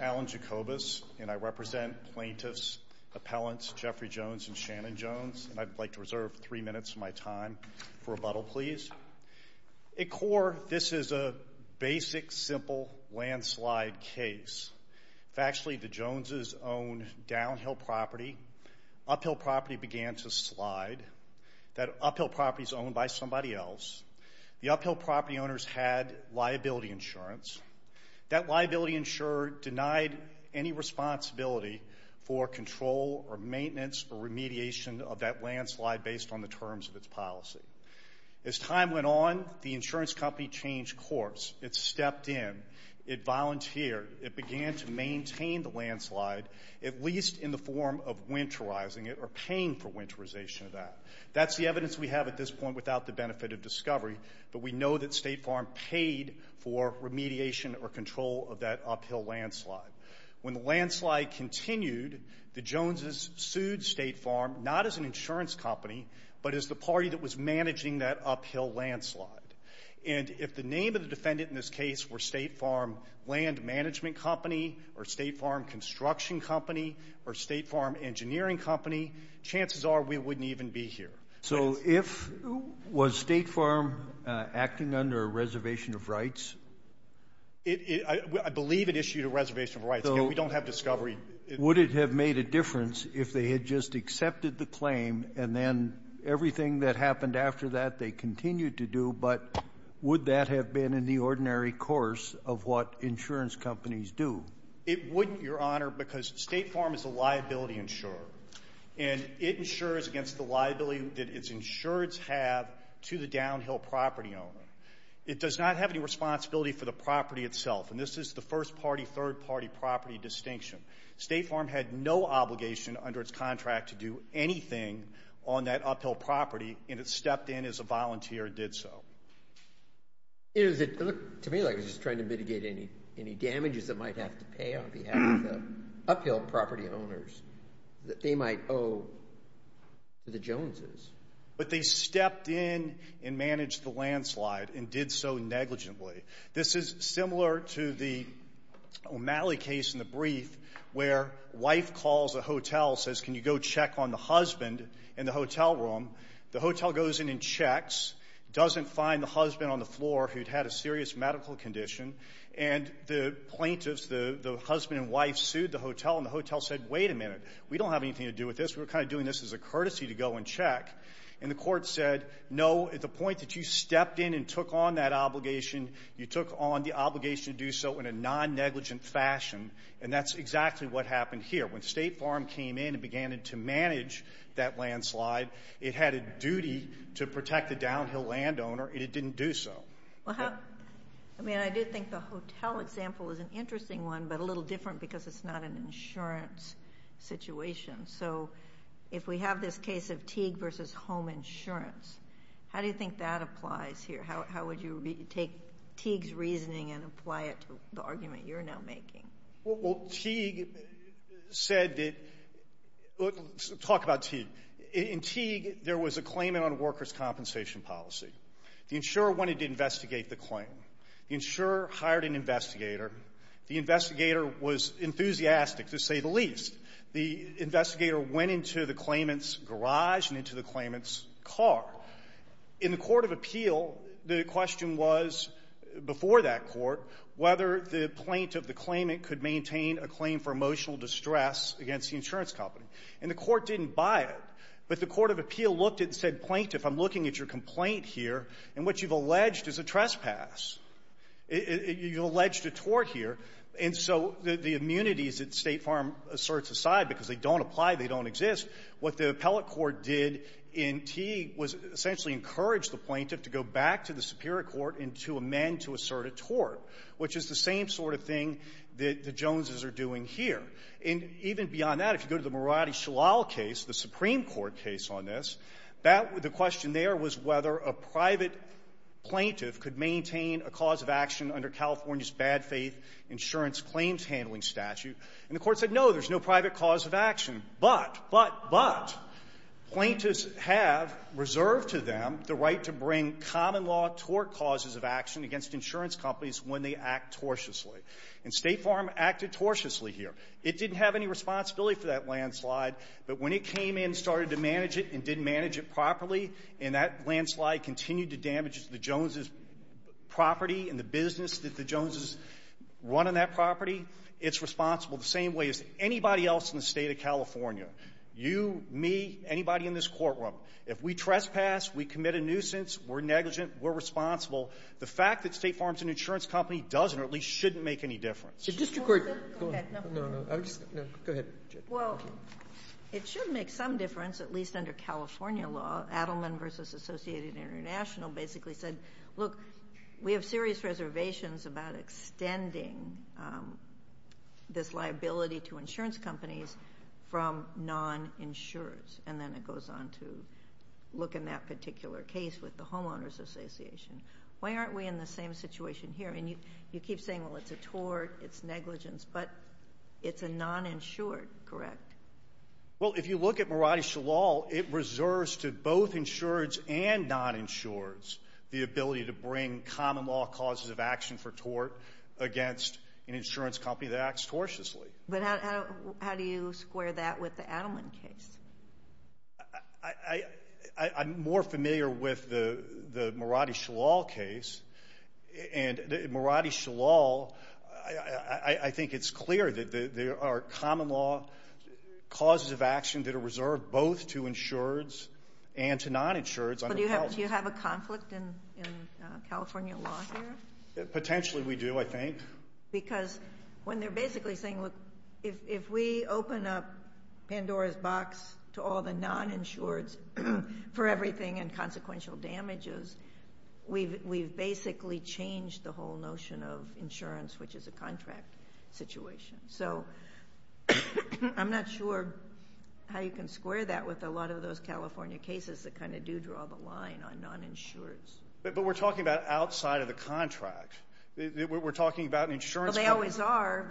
Alan Jacobus, Plaintiffs' Appellants, Jeffrey Jones v. Shannon Jones A core, this is a basic, simple landslide case. Factually, the Joneses owned downhill property. Uphill property began to slide. That uphill property is owned by somebody else. The uphill property owners had liability insurance. That liability insurer denied any for control or maintenance or remediation of that landslide based on the terms of its policy. As time went on, the insurance company changed course. It stepped in. It volunteered. It began to maintain the landslide, at least in the form of winterizing it or paying for winterization of that. That's the evidence we have at this point without the benefit of discovery, but we know that State Farm paid for remediation or control of that uphill landslide. When the landslide continued, the Joneses sued State Farm not as an insurance company but as the party that was managing that uphill landslide. And if the name of the defendant in this case were State Farm Land Management Company or State Farm Construction Company or State Farm Engineering Company, chances are we wouldn't even be here. So if, was State Farm acting under a reservation of rights? I believe it issued a reservation of rights. Again, we don't have discovery. Would it have made a difference if they had just accepted the claim and then everything that happened after that they continued to do, but would that have been in the ordinary course of what insurance companies do? It wouldn't, Your Honor, because State Farm is a liability insurer. And it insures against the liability that its insurers have to the downhill property owner. It does not have any responsibility for the property itself, and this is the first-party, third-party property distinction. State Farm had no obligation under its contract to do anything on that uphill property, and it stepped in as a volunteer and did so. It looked to me like it was just trying to mitigate any damages it might have to pay on behalf of the uphill property owners that they might owe to the Joneses. But they stepped in and managed the landslide and did so negligently. This is similar to the O'Malley case in the brief where wife calls a hotel, says, can you go check on the husband in the hotel room? The hotel goes in and checks, doesn't find the husband on the floor who'd had a serious medical condition, and the plaintiffs, the husband and wife, sued the hotel, and the hotel said, wait a minute, we don't have anything to do with this. We're kind of doing this as a courtesy to go and check. And the court said, no, at the point that you stepped in and took on that obligation, you took on the obligation to do so in a non-negligent fashion, and that's exactly what happened here. When State Farm came in and began to manage that landslide, it had a duty to protect the downhill landowner, and it didn't do so. Well, I mean, I do think the hotel example is an interesting one, but a little different because it's not an insurance situation. So if we have this case of Teague v. Home Insurance, how do you think that applies here? How would you take Teague's reasoning and apply it to the argument you're now making? Well, Teague said that – talk about Teague. In Teague, there was a claimant on workers' compensation policy. The insurer wanted to investigate the claim. The insurer hired an investigator. The investigator was enthusiastic, to say the least. The investigator went into the claimant's garage and into the claimant's car. In the court of appeal, the question was, before that court, whether the plaintiff, the claimant, could maintain a claim for emotional distress against the insurance company. And the court didn't buy it. But the court of appeal looked and said, plaintiff, I'm looking at your complaint here, and what you've alleged is a trespass. You've alleged a tort here. And so the immunities that State Farm asserts aside, because they don't apply, they don't exist, what the appellate court did in Teague was essentially encourage the plaintiff to go back to the superior court and to amend to assert a tort, which is the same sort of thing that the Joneses are doing here. And even beyond that, if you go to the Moratti-Shalal case, the Supreme Court case on this, that the question there was whether a private plaintiff could maintain a cause of action under California's bad faith insurance claims handling statute. And the court said, no, there's no private cause of action, but, but, but, plaintiffs have reserved to them the right to bring common law tort causes of action against insurance companies when they act tortiously. And State Farm acted tortiously here. It didn't have any responsibility for that and didn't manage it properly. And that landslide continued to damage the Joneses' property and the business that the Joneses run on that property. It's responsible the same way as anybody else in the State of California, you, me, anybody in this courtroom. If we trespass, we commit a nuisance, we're negligent, we're responsible. The fact that State Farm's an insurance company doesn't or at least shouldn't make any difference. Go ahead. Well, it should make some difference, at least under California law. Adelman v. Associated International basically said, look, we have serious reservations about extending this liability to insurance companies from non-insurers. And then it goes on to look in that particular case with the homeowners association. Why aren't we in the same situation here? I mean, you keep saying, well, it's a tort, it's negligence, but it's a non-insured, correct? Well, if you look at Mirati Shalal, it reserves to both insureds and non-insureds the ability to bring common law causes of action for tort against an insurance company that acts tortiously. But how do you square that with the Adelman case? I'm more familiar with the Mirati Shalal case. And in Mirati Shalal, I think it's clear that there are common law causes of action that are reserved both to insureds and to non-insureds. But do you have a conflict in California law here? Potentially we do, I think. Because when they're basically saying, look, if we open up Pandora's Box to all the non-insureds for everything and consequential damages, we've basically changed the whole notion of insurance, which is a contract situation. So I'm not sure how you can square that with a lot of those California cases that kind of do draw the line on non-insureds. But we're talking about outside of the contract. We're talking about an insurance company. Well, they always are.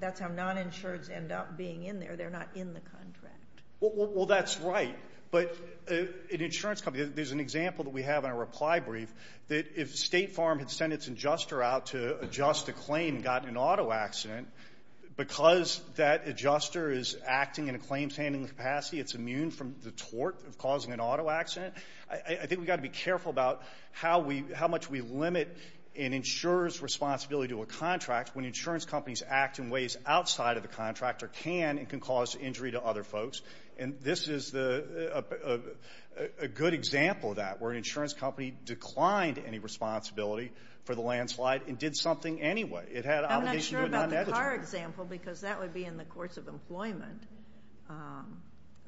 That's how non-insureds end up being in there. They're not in the contract. Well, that's right. But an insurance company, there's an example that we have in our reply brief that if State Farm had sent its adjuster out to adjust a claim and gotten an auto accident, because that adjuster is acting in a claim-sanding capacity, it's immune from the tort of causing an auto accident, I think we've got to be careful about how we how much we limit an insurer's responsibility to a contract when insurance companies act in ways outside of the contract or can and can cause injury to other folks. And this is a good example of that, where an insurance company declined any responsibility for the landslide and did something anyway. It had obligations to a non-negotiator. I'm not sure about the car example, because that would be in the course of employment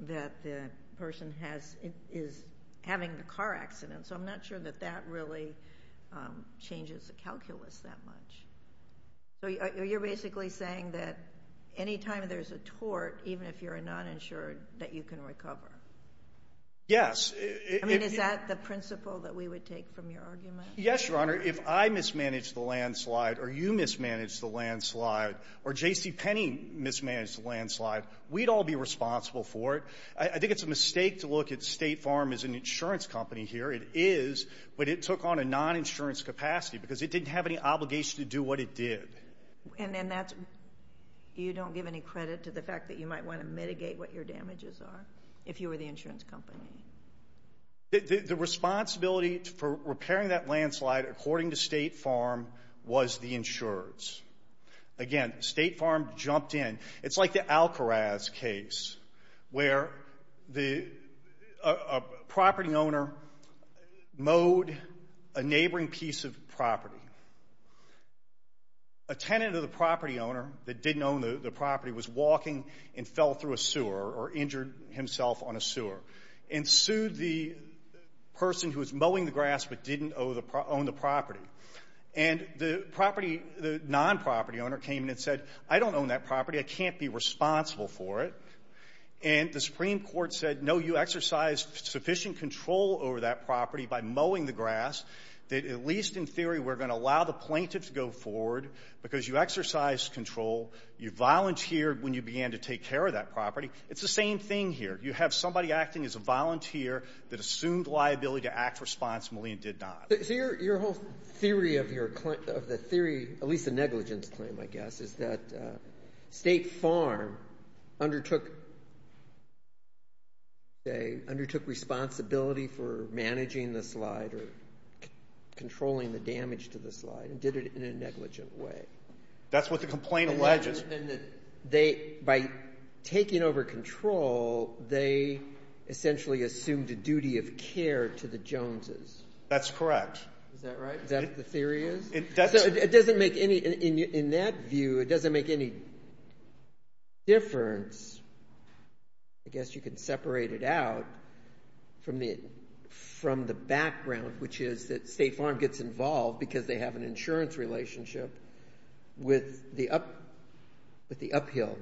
that the person has is having the car accident. So I'm not sure that that really changes the calculus that much. So you're basically saying that any time there's a tort, even if you're a non-insured, that you can recover? Yes. I mean, is that the principle that we would take from your argument? Yes, Your Honor. If I mismanaged the landslide or you mismanaged the landslide or J.C. Penny mismanaged the landslide, we'd all be responsible for it. I think it's a mistake to look at State Farm as an insurance company here. It is, but it took on a non-insurance capacity because it didn't have any obligation to do what it did. And then that's why you don't give any credit to the fact that you might want to mitigate what your damages are if you were the insurance company? The responsibility for repairing that landslide, according to State Farm, was the insurer's. Again, State Farm jumped in. It's like the Alcoraz case where a property owner mowed a neighboring piece of property. A tenant of the property owner that didn't own the property was walking and fell through a sewer or injured himself on a sewer and sued the person who was mowing the grass but didn't own the property. And the property — the non-property owner came in and said, I don't own that property. I can't be responsible for it. And the Supreme Court said, no, you exercised sufficient control over that property by mowing the grass that, at least in theory, we're going to allow the plaintiff to go forward because you exercised control. You volunteered when you began to take care of that property. It's the same thing here. You have somebody acting as a volunteer that assumed liability to act responsibly and did not. So your whole theory of the theory, at least the negligence claim, I guess, is that State Farm undertook responsibility for managing the slide or controlling the damage to the slide and did it in a negligent way. That's what the complaint alleges. By taking over control, they essentially assumed a duty of care to the Joneses. That's correct. Is that right? Is that what the theory is? It doesn't make any — in that view, it doesn't make any difference. I guess you could separate it out from the background, which is that State Farm gets involved because they have an insurance relationship with the uphill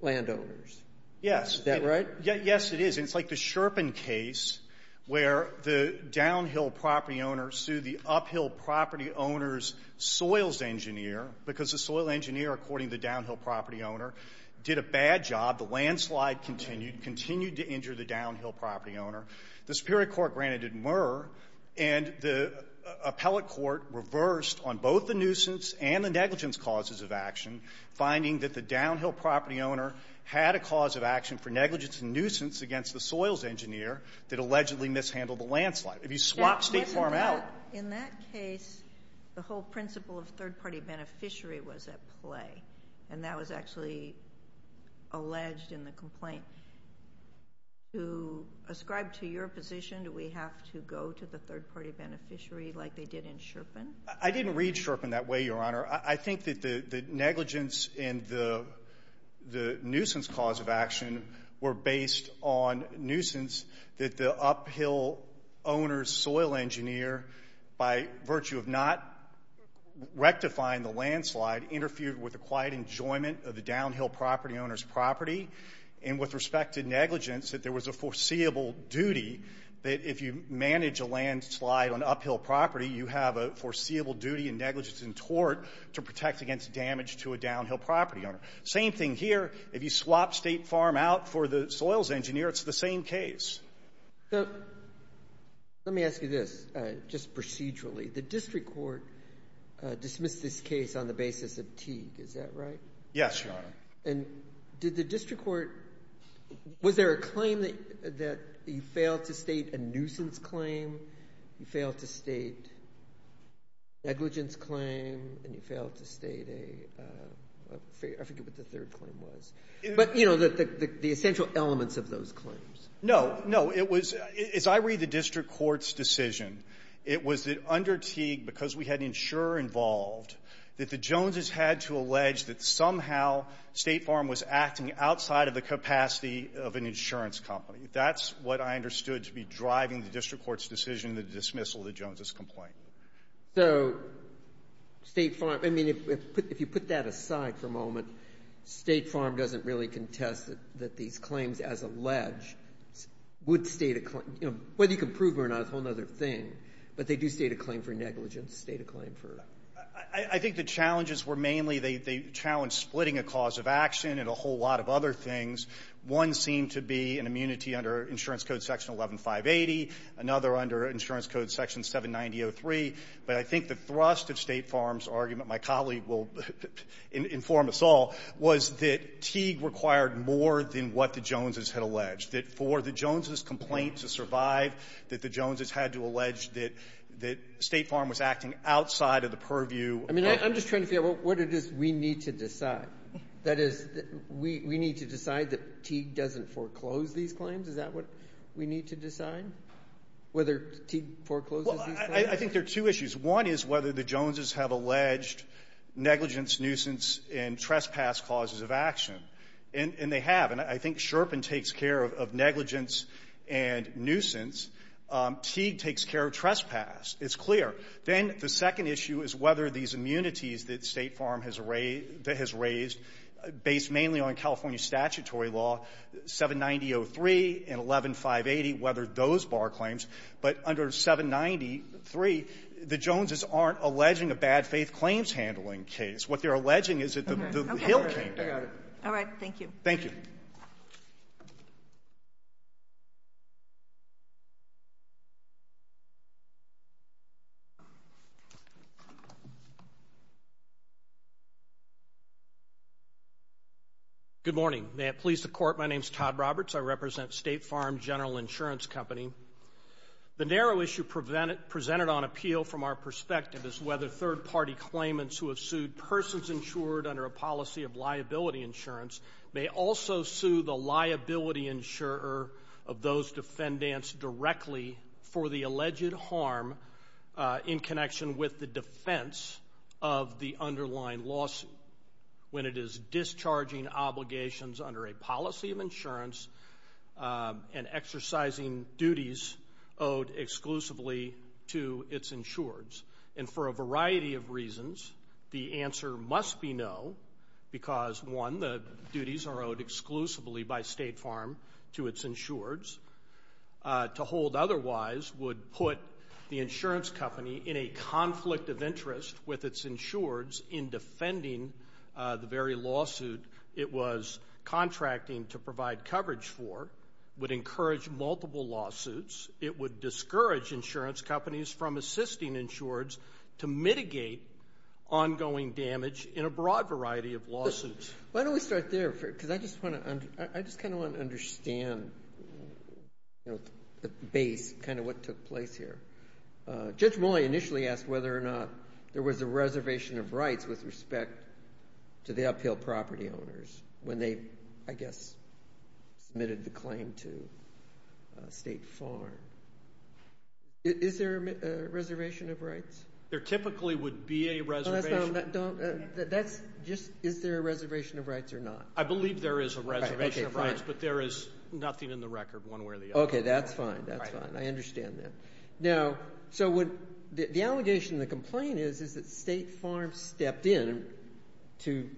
landowners. Yes. Is that right? Yes, it is. And it's like the Sherpin case where the downhill property owner sued the uphill property owner's soils engineer because the soil engineer, according to the downhill property owner, did a bad job. The landslide continued, continued to injure the downhill property owner. The Superior Court granted it Murr. And the appellate court reversed on both the nuisance and the negligence causes of action, finding that the downhill property owner had a cause of action for negligence and nuisance against the soils engineer that allegedly mishandled the landslide. If you swap State Farm out — In that case, the whole principle of third-party beneficiary was at play, and that was actually alleged in the complaint. To ascribe to your position, do we have to go to the third-party beneficiary like they did in Sherpin? I didn't read Sherpin that way, Your Honor. I think that the negligence and the nuisance cause of action were based on nuisance that the uphill owner's soil engineer, by virtue of not rectifying the landslide, interfered with the quiet enjoyment of the downhill property owner's property. And with respect to negligence, that there was a foreseeable duty that if you manage a landslide on uphill property, you have a foreseeable duty in negligence and tort to protect against damage to a downhill property owner. Same thing here. If you swap State Farm out for the soils engineer, it's the same case. So let me ask you this, just procedurally. The district court dismissed this case on the basis of Teague. Is that right? Yes, Your Honor. And did the district court — was there a claim that you failed to state a nuisance claim, you failed to state a negligence claim, and you failed to state a — I forget what the third claim was. But, you know, the essential elements of those claims. No. No. It was — as I read the district court's decision, it was that under Teague, because we had an insurer involved, that the Joneses had to allege that somehow State Farm was acting outside of the capacity of an insurance company. That's what I understood to be driving the district court's decision to dismiss all the Joneses' complaint. So State Farm — I mean, if you put that aside for a moment, State Farm doesn't really contest that these claims as alleged would state a — you know, whether you can prove them or not is a whole other thing. But they do state a claim for negligence, state a claim for — I think the challenges were mainly they challenged splitting a cause of action and a whole lot of other things. One seemed to be an immunity under Insurance Code Section 11580, another under Insurance Code Section 79003. But I think the thrust of State Farm's argument, my colleague will inform us all, was that Teague required more than what the Joneses had alleged. That for the Joneses' complaint to survive, that the Joneses had to allege that State Farm was acting outside of the purview of — I mean, I'm just trying to figure out what it is we need to decide. That is, we need to decide that Teague doesn't foreclose these claims? Is that what we need to decide, whether Teague forecloses these claims? Well, I think there are two issues. One is whether the Joneses have alleged negligence, nuisance, and trespass causes of action. And they have. And I think Sherpin takes care of negligence and nuisance. Teague takes care of trespass. It's clear. Then the second issue is whether these immunities that State Farm has raised — that has raised, based mainly on California statutory law, 79003 and 11580, whether those bar claims. But under 79003, the Joneses aren't alleging a bad-faith-claims-handling case. What they're alleging is that the Hill came down. Okay. I got it. Thank you. Thank you. Good morning. May it please the Court, my name is Todd Roberts. I represent State Farm General Insurance Company. The narrow issue presented on appeal from our perspective is whether third-party claimants who have sued persons insured under a policy of liability insurance may also sue the liability insurer of those defendants directly for the alleged harm in connection with the defense of the underlying lawsuit when it is discharging obligations under a policy of insurance and exercising duties owed exclusively to its insureds. And for a variety of reasons, the answer must be no because, one, the duties are owed exclusively by State Farm to its insureds. To hold otherwise would put the insurance company in a conflict of interest with its insureds in defending the very lawsuit it was contracting to provide coverage for, would encourage multiple lawsuits. It would discourage insurance companies from assisting insureds to mitigate ongoing damage in a broad variety of lawsuits. Why don't we start there? Because I just kind of want to understand the base, kind of what took place here. Judge Moye initially asked whether or not there was a reservation of rights with respect to the appeal property owners when they, I guess, submitted the claim to State Farm. Is there a reservation of rights? There typically would be a reservation. Is there a reservation of rights or not? I believe there is a reservation of rights, but there is nothing in the record one way or the other. Okay. That's fine. That's fine. I understand that. Now, so the allegation in the complaint is that State Farm stepped in to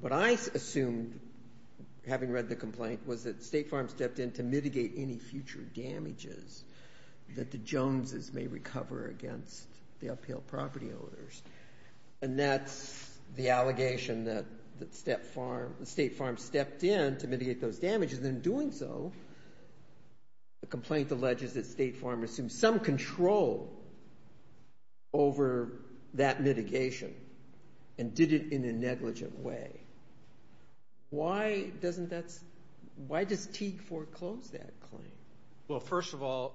what I assumed, having read the complaint, was that State Farm stepped in to mitigate any future damages that the Joneses may recover against the appeal property owners. And that's the allegation that State Farm stepped in to mitigate those damages. In doing so, the complaint alleges that State Farm assumed some control over that mitigation and did it in a negligent way. Why does Teague foreclose that claim? Well, first of all,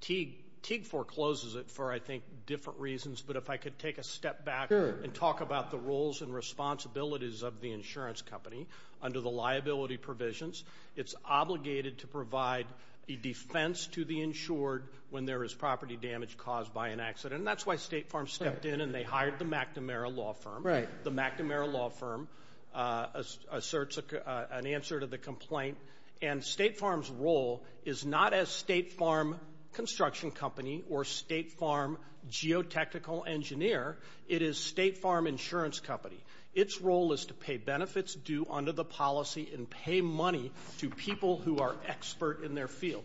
Teague forecloses it for, I think, different reasons. But if I could take a step back and talk about the roles and responsibilities of the insurance company under the liability provisions, it's obligated to provide a defense to the insured when there is property damage caused by an accident. And that's why State Farm stepped in and they hired the McNamara Law Firm. The McNamara Law Firm asserts an answer to the complaint. And State Farm's role is not as State Farm Construction Company or State Farm Geotechnical Engineer. It is State Farm Insurance Company. Its role is to pay benefits due under the policy and pay money to people who are expert in their field.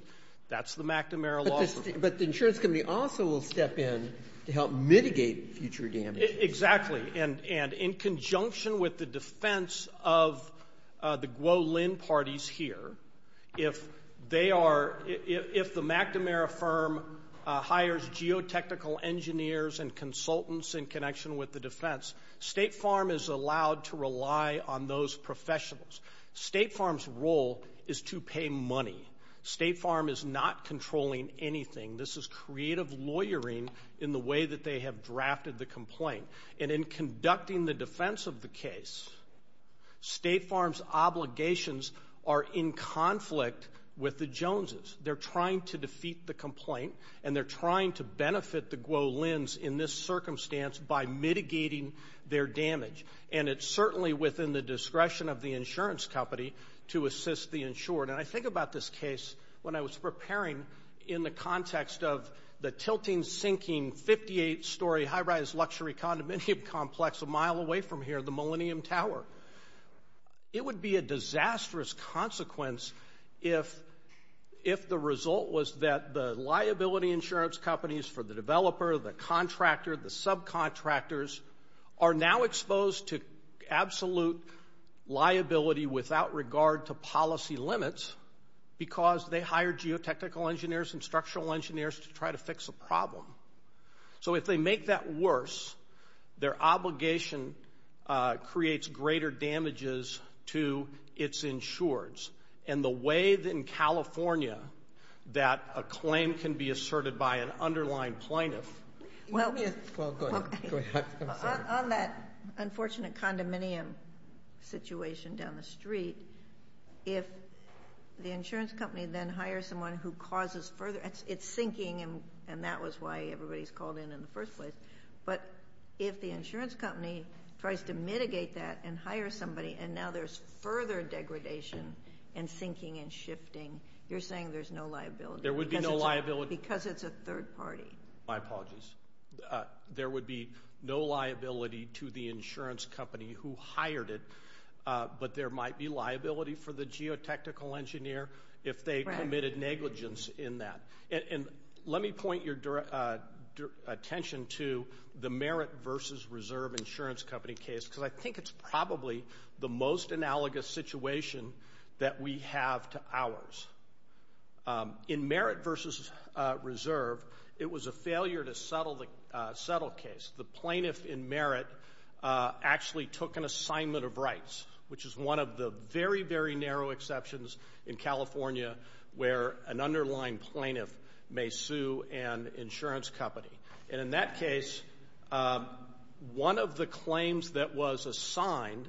That's the McNamara Law Firm. But the insurance company also will step in to help mitigate future damages. Exactly. And in conjunction with the defense of the GWO-LIN parties here, if the McNamara firm hires geotechnical engineers and consultants in connection with the defense, State Farm is allowed to rely on those professionals. State Farm's role is to pay money. State Farm is not controlling anything. This is creative lawyering in the way that they have drafted the complaint. And in conducting the defense of the case, State Farm's obligations are in conflict with the Joneses. They're trying to defeat the complaint and they're trying to benefit the GWO-LINs in this circumstance by mitigating their damage. And it's certainly within the discretion of the insurance company to assist the insured. And I think about this case when I was preparing in the context of the tilting, sinking, 58-story high-rise luxury condominium complex a mile away from here, the Millennium Tower. It would be a disastrous consequence if the result was that the liability insurance companies for the developer, the contractor, the subcontractors, are now exposed to absolute liability without regard to policy limits because they hired geotechnical engineers and structural engineers to try to fix a problem. So if they make that worse, their obligation creates greater damages to its insureds. And the way in California that a claim can be asserted by an underlying plaintiff. Well, go ahead. On that unfortunate condominium situation down the street, if the insurance company then hires someone who causes further, it's sinking, and that was why everybody's called in in the first place, but if the insurance company tries to mitigate that and hire somebody and now there's further degradation and sinking and shifting, you're saying there's no liability. There would be no liability. Because it's a third party. My apologies. There would be no liability to the insurance company who hired it, but there might be liability for the geotechnical engineer if they committed negligence in that. And let me point your attention to the merit versus reserve insurance company case because I think it's probably the most analogous situation that we have to ours. In merit versus reserve, it was a failure to settle the case. The plaintiff in merit actually took an assignment of rights, which is one of the very, very narrow exceptions in California where an underlying plaintiff may sue an insurance company. And in that case, one of the claims that was assigned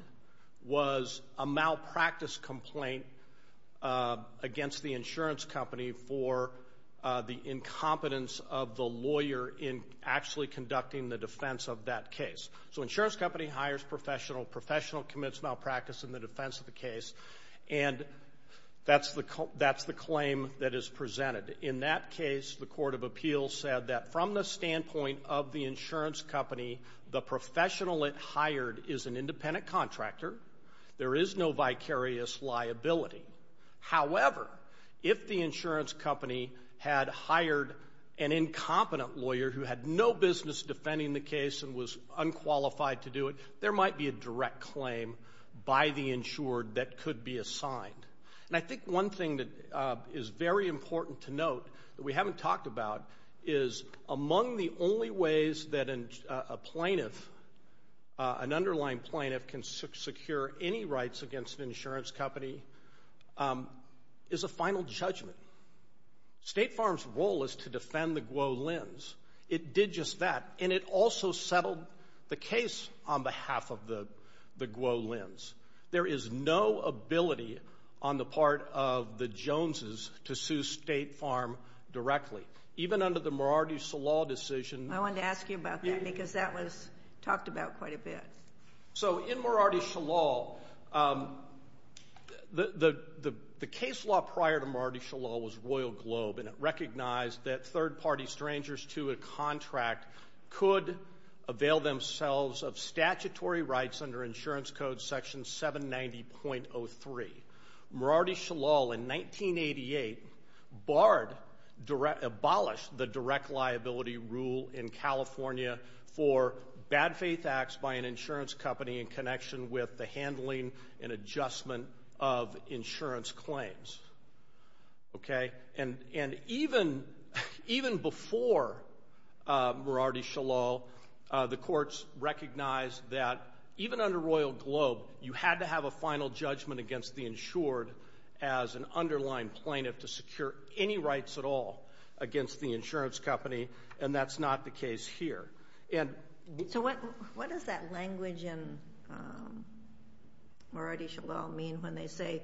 was a malpractice complaint against the insurance company for the incompetence of the lawyer in actually conducting the defense of that case. So insurance company hires professional, professional commits malpractice in the defense of the case, and that's the claim that is presented. In that case, the court of appeals said that from the standpoint of the insurance company, the professional it hired is an independent contractor. There is no vicarious liability. However, if the insurance company had hired an incompetent lawyer who had no business defending the case and was unqualified to do it, there might be a direct claim by the insured that could be assigned. And I think one thing that is very important to note that we haven't talked about is among the only ways that a plaintiff, an underlying plaintiff, can secure any rights against an insurance company is a final judgment. State Farm's role is to defend the GWO lends. It did just that, and it also settled the case on behalf of the GWO lends. There is no ability on the part of the Joneses to sue State Farm directly. Even under the Morardi-Shalal decision. I wanted to ask you about that because that was talked about quite a bit. So in Morardi-Shalal, the case law prior to Morardi-Shalal was Royal Globe, and it recognized that third-party strangers to a contract could avail themselves of statutory rights under insurance code section 790.03. Morardi-Shalal in 1988 abolished the direct liability rule in California for bad faith acts by an insurance company in connection with the handling and adjustment of insurance claims. And even before Morardi-Shalal, the courts recognized that even under Royal Globe, you had to have a final judgment against the insured as an underlying plaintiff to secure any rights at all against the insurance company, and that's not the case here. So what does that language in Morardi-Shalal mean when they say,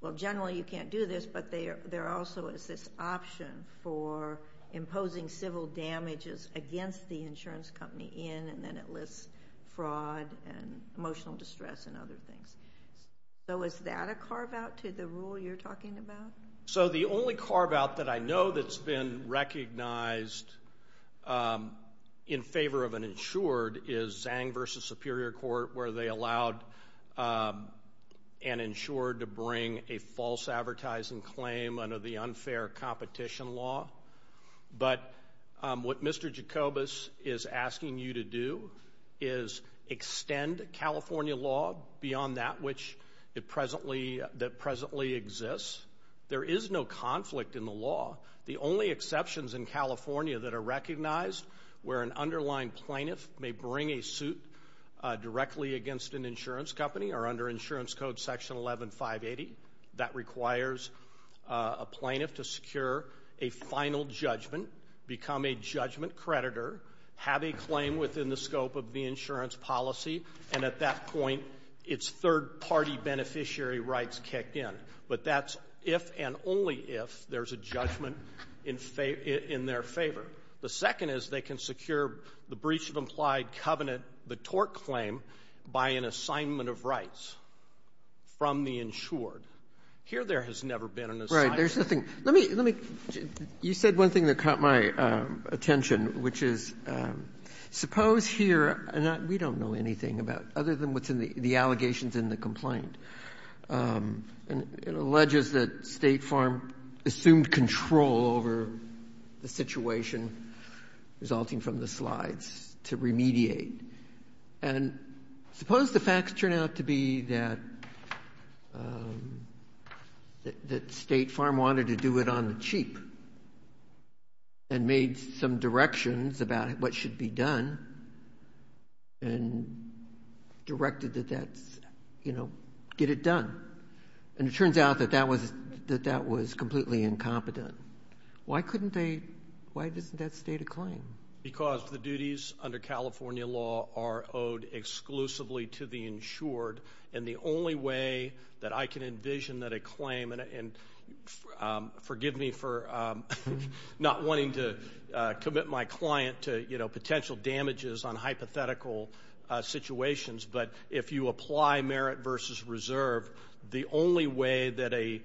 well, generally you can't do this, but there also is this option for imposing civil damages against the insurance company in, and then it lists fraud and emotional distress and other things. So is that a carve-out to the rule you're talking about? So the only carve-out that I know that's been recognized in favor of an insured is Zang v. Superior Court, where they allowed an insured to bring a false advertising claim under the unfair competition law. But what Mr. Jacobus is asking you to do is extend California law beyond that which it presently exists. There is no conflict in the law. The only exceptions in California that are recognized where an underlying plaintiff may bring a suit directly against an insurance company are under Insurance Code Section 11-580. That requires a plaintiff to secure a final judgment, become a judgment creditor, have a claim within the scope of the insurance policy, and at that point, its third-party beneficiary rights kick in. But that's if and only if there's a judgment in their favor. The second is they can secure the breach of implied covenant, the tort claim, by an assignment of rights from the insured. Here there has never been an assignment. Right. There's nothing. Let me you said one thing that caught my attention, which is suppose we don't know anything other than what's in the allegations in the complaint. It alleges that State Farm assumed control over the situation resulting from the slides to remediate. And suppose the facts turn out to be that State Farm wanted to do it on the cheap and made some directions about what should be done and directed that that's, you know, get it done. And it turns out that that was completely incompetent. Why couldn't they, why isn't that State a claim? Because the duties under California law are owed exclusively to the insured. And the only way that I can envision that a claim, and forgive me for not wanting to commit my client to, you know, potential damages on hypothetical situations, but if you apply merit versus reserve, the only way that a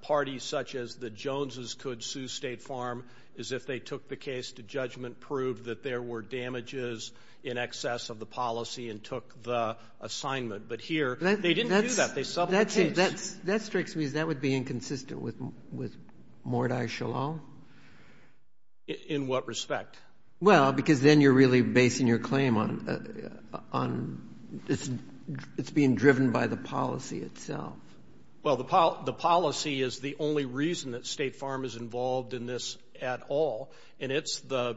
party such as the Joneses could sue State Farm is if they took the case to judgment, proved that there were damages in excess of the policy, and took the assignment. But here, they didn't do that. They supplemented the case. That strikes me as that would be inconsistent with Mordai Shalom. In what respect? Well, because then you're really basing your claim on it's being driven by the policy itself. Well, the policy is the only reason that State Farm is involved in this at all. And it's the,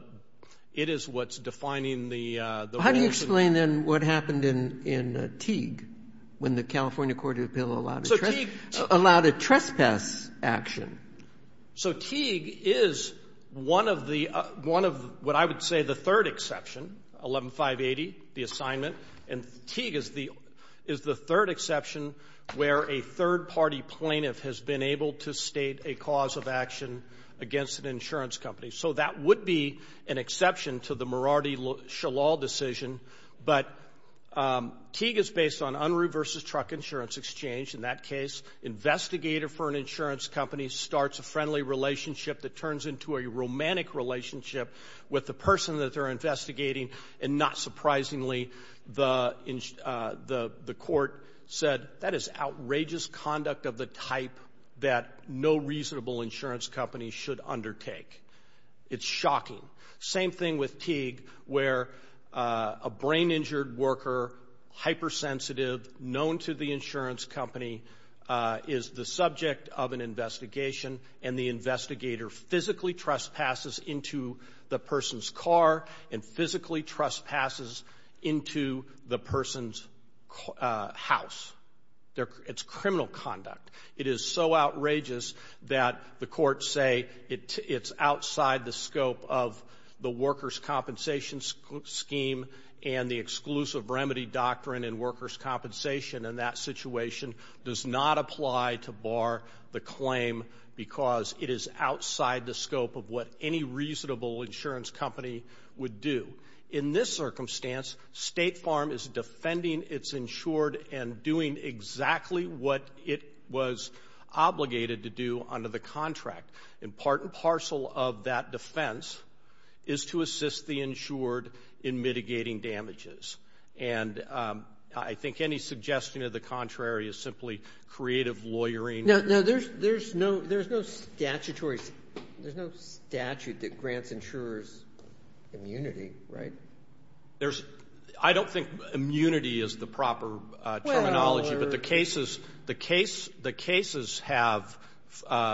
it is what's defining the rules. How do you explain then what happened in Teague when the California Court of Appeal allowed a trespass action? So Teague is one of the, one of what I would say the third exception, 11580, the assignment. And Teague is the third exception where a third-party plaintiff has been able to state a cause of action against an insurance company. So that would be an exception to the Mordai Shalom decision. But Teague is based on Unruh v. Truck Insurance Exchange. In that case, investigator for an insurance company starts a friendly relationship that turns into a romantic relationship with the person that they're investigating. And not surprisingly, the court said, that is outrageous conduct of the type that no reasonable insurance company should undertake. It's shocking. Same thing with Teague where a brain-injured worker, hypersensitive, known to the insurance company is the subject of an investigation, and the investigator physically trespasses into the person's car and physically trespasses into the person's house. It's criminal conduct. It is so outrageous that the courts say it's outside the scope of the workers' compensation scheme and the exclusive remedy doctrine in workers' compensation, and that situation does not apply to bar the claim because it is outside the scope of what any reasonable insurance company would do. In this circumstance, State Farm is defending its insured and doing exactly what it was obligated to do under the contract. And part and parcel of that defense is to assist the insured in mitigating damages. And I think any suggestion of the contrary is simply creative lawyering. No. There's no statutory statute that grants insurers immunity, right? I don't think immunity is the proper terminology, but the cases have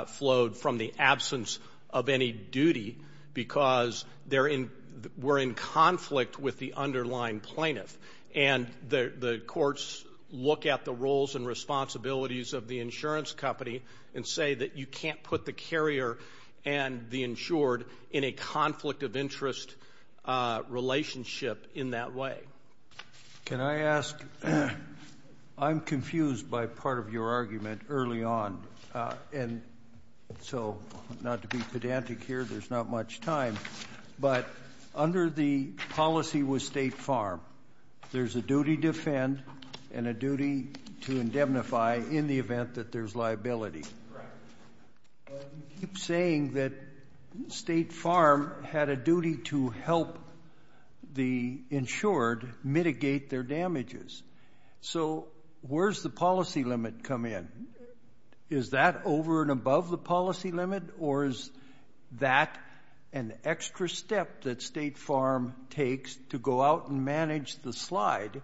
flowed from the absence of any duty because they're in we're in conflict with the underlying plaintiff. And the courts look at the roles and responsibilities of the insurance company and say that you can't put the carrier and the insured in a conflict of interest relationship in that way. Can I ask? I'm confused by part of your argument early on, and so not to be pedantic here. There's not much time. But under the policy with State Farm, there's a duty to defend and a duty to indemnify in the event that there's liability. Correct. You keep saying that State Farm had a duty to help the insured mitigate their damages. So where's the policy limit come in? Is that over and above the policy limit, or is that an extra step that State Farm takes to go out and manage the slide,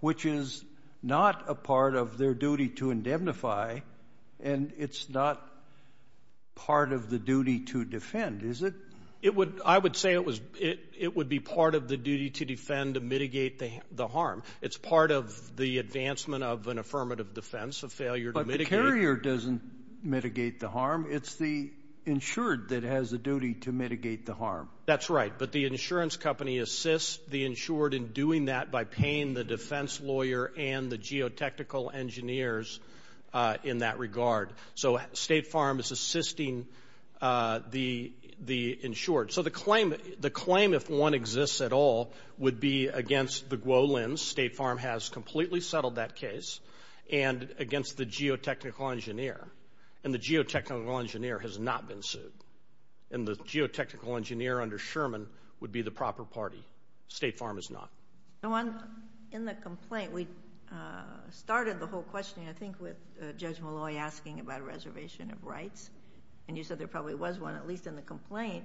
which is not a part of their duty to indemnify, and it's not part of the duty to defend, is it? I would say it would be part of the duty to defend to mitigate the harm. It's part of the advancement of an affirmative defense, a failure to mitigate. But the carrier doesn't mitigate the harm. It's the insured that has a duty to mitigate the harm. That's right. But the insurance company assists the insured in doing that by paying the defense lawyer and the geotechnical engineers in that regard. So State Farm is assisting the insured. So the claim, if one exists at all, would be against the GWO lens. State Farm has completely settled that case, and against the geotechnical engineer. And the geotechnical engineer has not been sued. And the geotechnical engineer under Sherman would be the proper party. State Farm is not. In the complaint, we started the whole question, I think, with Judge Malloy asking about a reservation of rights. And you said there probably was one, at least in the complaint.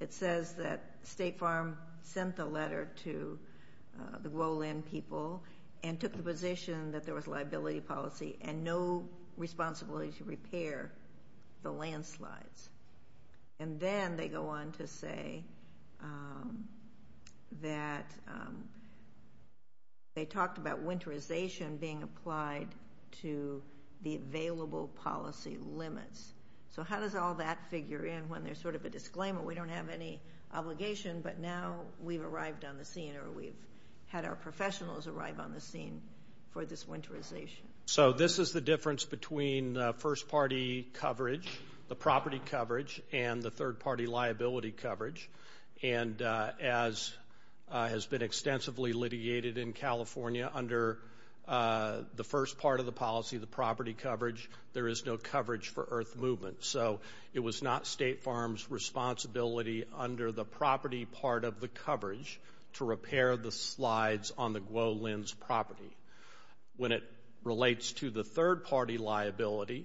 It says that State Farm sent the letter to the GWO lens people and took the position that there was liability policy and no responsibility to repair the landslides. And then they go on to say that they talked about winterization being applied to the available policy limits. So how does all that figure in when there's sort of a disclaimer, we don't have any obligation, but now we've arrived on the scene or we've had our professionals arrive on the scene for this winterization? So this is the difference between first-party coverage, the property coverage, and the third-party liability coverage. And as has been extensively litigated in California, under the first part of the policy, the property coverage, there is no coverage for earth movement. So it was not State Farm's responsibility under the property part of the coverage to repair the slides on the GWO lens property. When it relates to the third-party liability,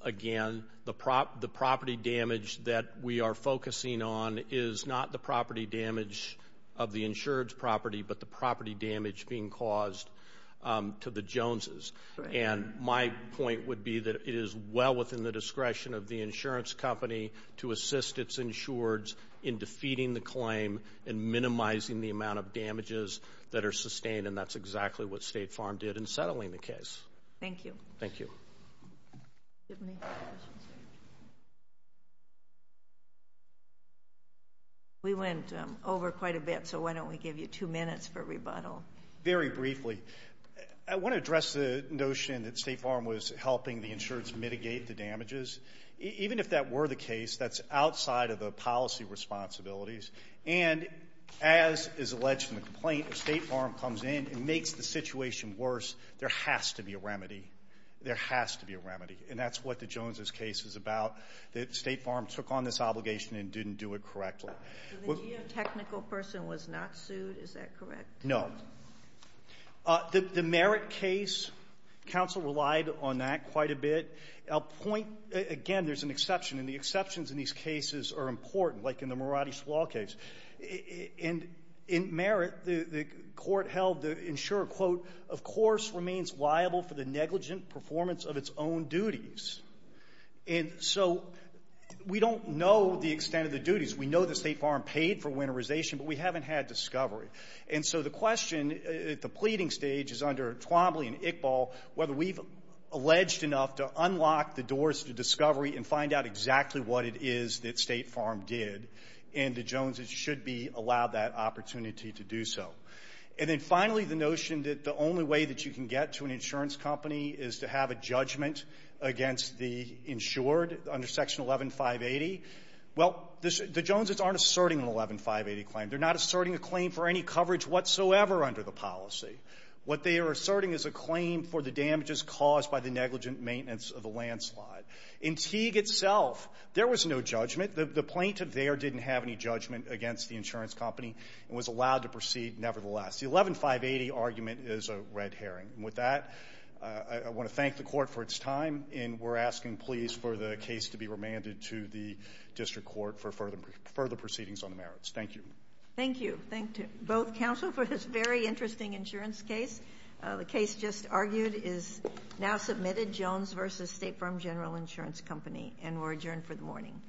again, the property damage that we are focusing on is not the property damage of the insured's property, but the property damage being caused to the Joneses. And my point would be that it is well within the discretion of the insurance company to assist its insureds in defeating the claim and minimizing the amount of damages that are sustained, and that's exactly what State Farm did in settling the case. Thank you. Thank you. Do we have any other questions? We went over quite a bit, so why don't we give you two minutes for rebuttal. Very briefly, I want to address the notion that State Farm was helping the insureds mitigate the damages. Even if that were the case, that's outside of the policy responsibilities. And as is alleged from the complaint, if State Farm comes in and makes the situation worse, there has to be a remedy. There has to be a remedy, and that's what the Joneses case is about, that State Farm took on this obligation and didn't do it correctly. The geotechnical person was not sued, is that correct? No. The Merritt case, counsel relied on that quite a bit. I'll point, again, there's an exception, and the exceptions in these cases are important, like in the Moratti's Law case. In Merritt, the court held the insurer, quote, of course remains liable for the negligent performance of its own duties. And so we don't know the extent of the duties. We know that State Farm paid for winterization, but we haven't had discovery. And so the question at the pleading stage is under Twombly and Iqbal whether we've alleged enough to unlock the doors to discovery and find out exactly what it is that State Farm did, and the Joneses should be allowed that opportunity to do so. And then finally, the notion that the only way that you can get to an insurance company is to have a judgment against the insured under Section 11580. Well, the Joneses aren't asserting an 11580 claim. They're not asserting a claim for any coverage whatsoever under the policy. What they are asserting is a claim for the damages caused by the negligent maintenance of the landslide. In Teague itself, there was no judgment. The plaintiff there didn't have any judgment against the insurance company and was allowed to proceed nevertheless. The 11580 argument is a red herring. And with that, I want to thank the court for its time, and we're asking, please, for the case to be remanded to the district court for further proceedings on the merits. Thank you. Thank you. Thank both counsel for this very interesting insurance case. The case just argued is now submitted, Jones v. State Farm General Insurance Company, and we're adjourned for the morning. Thank you.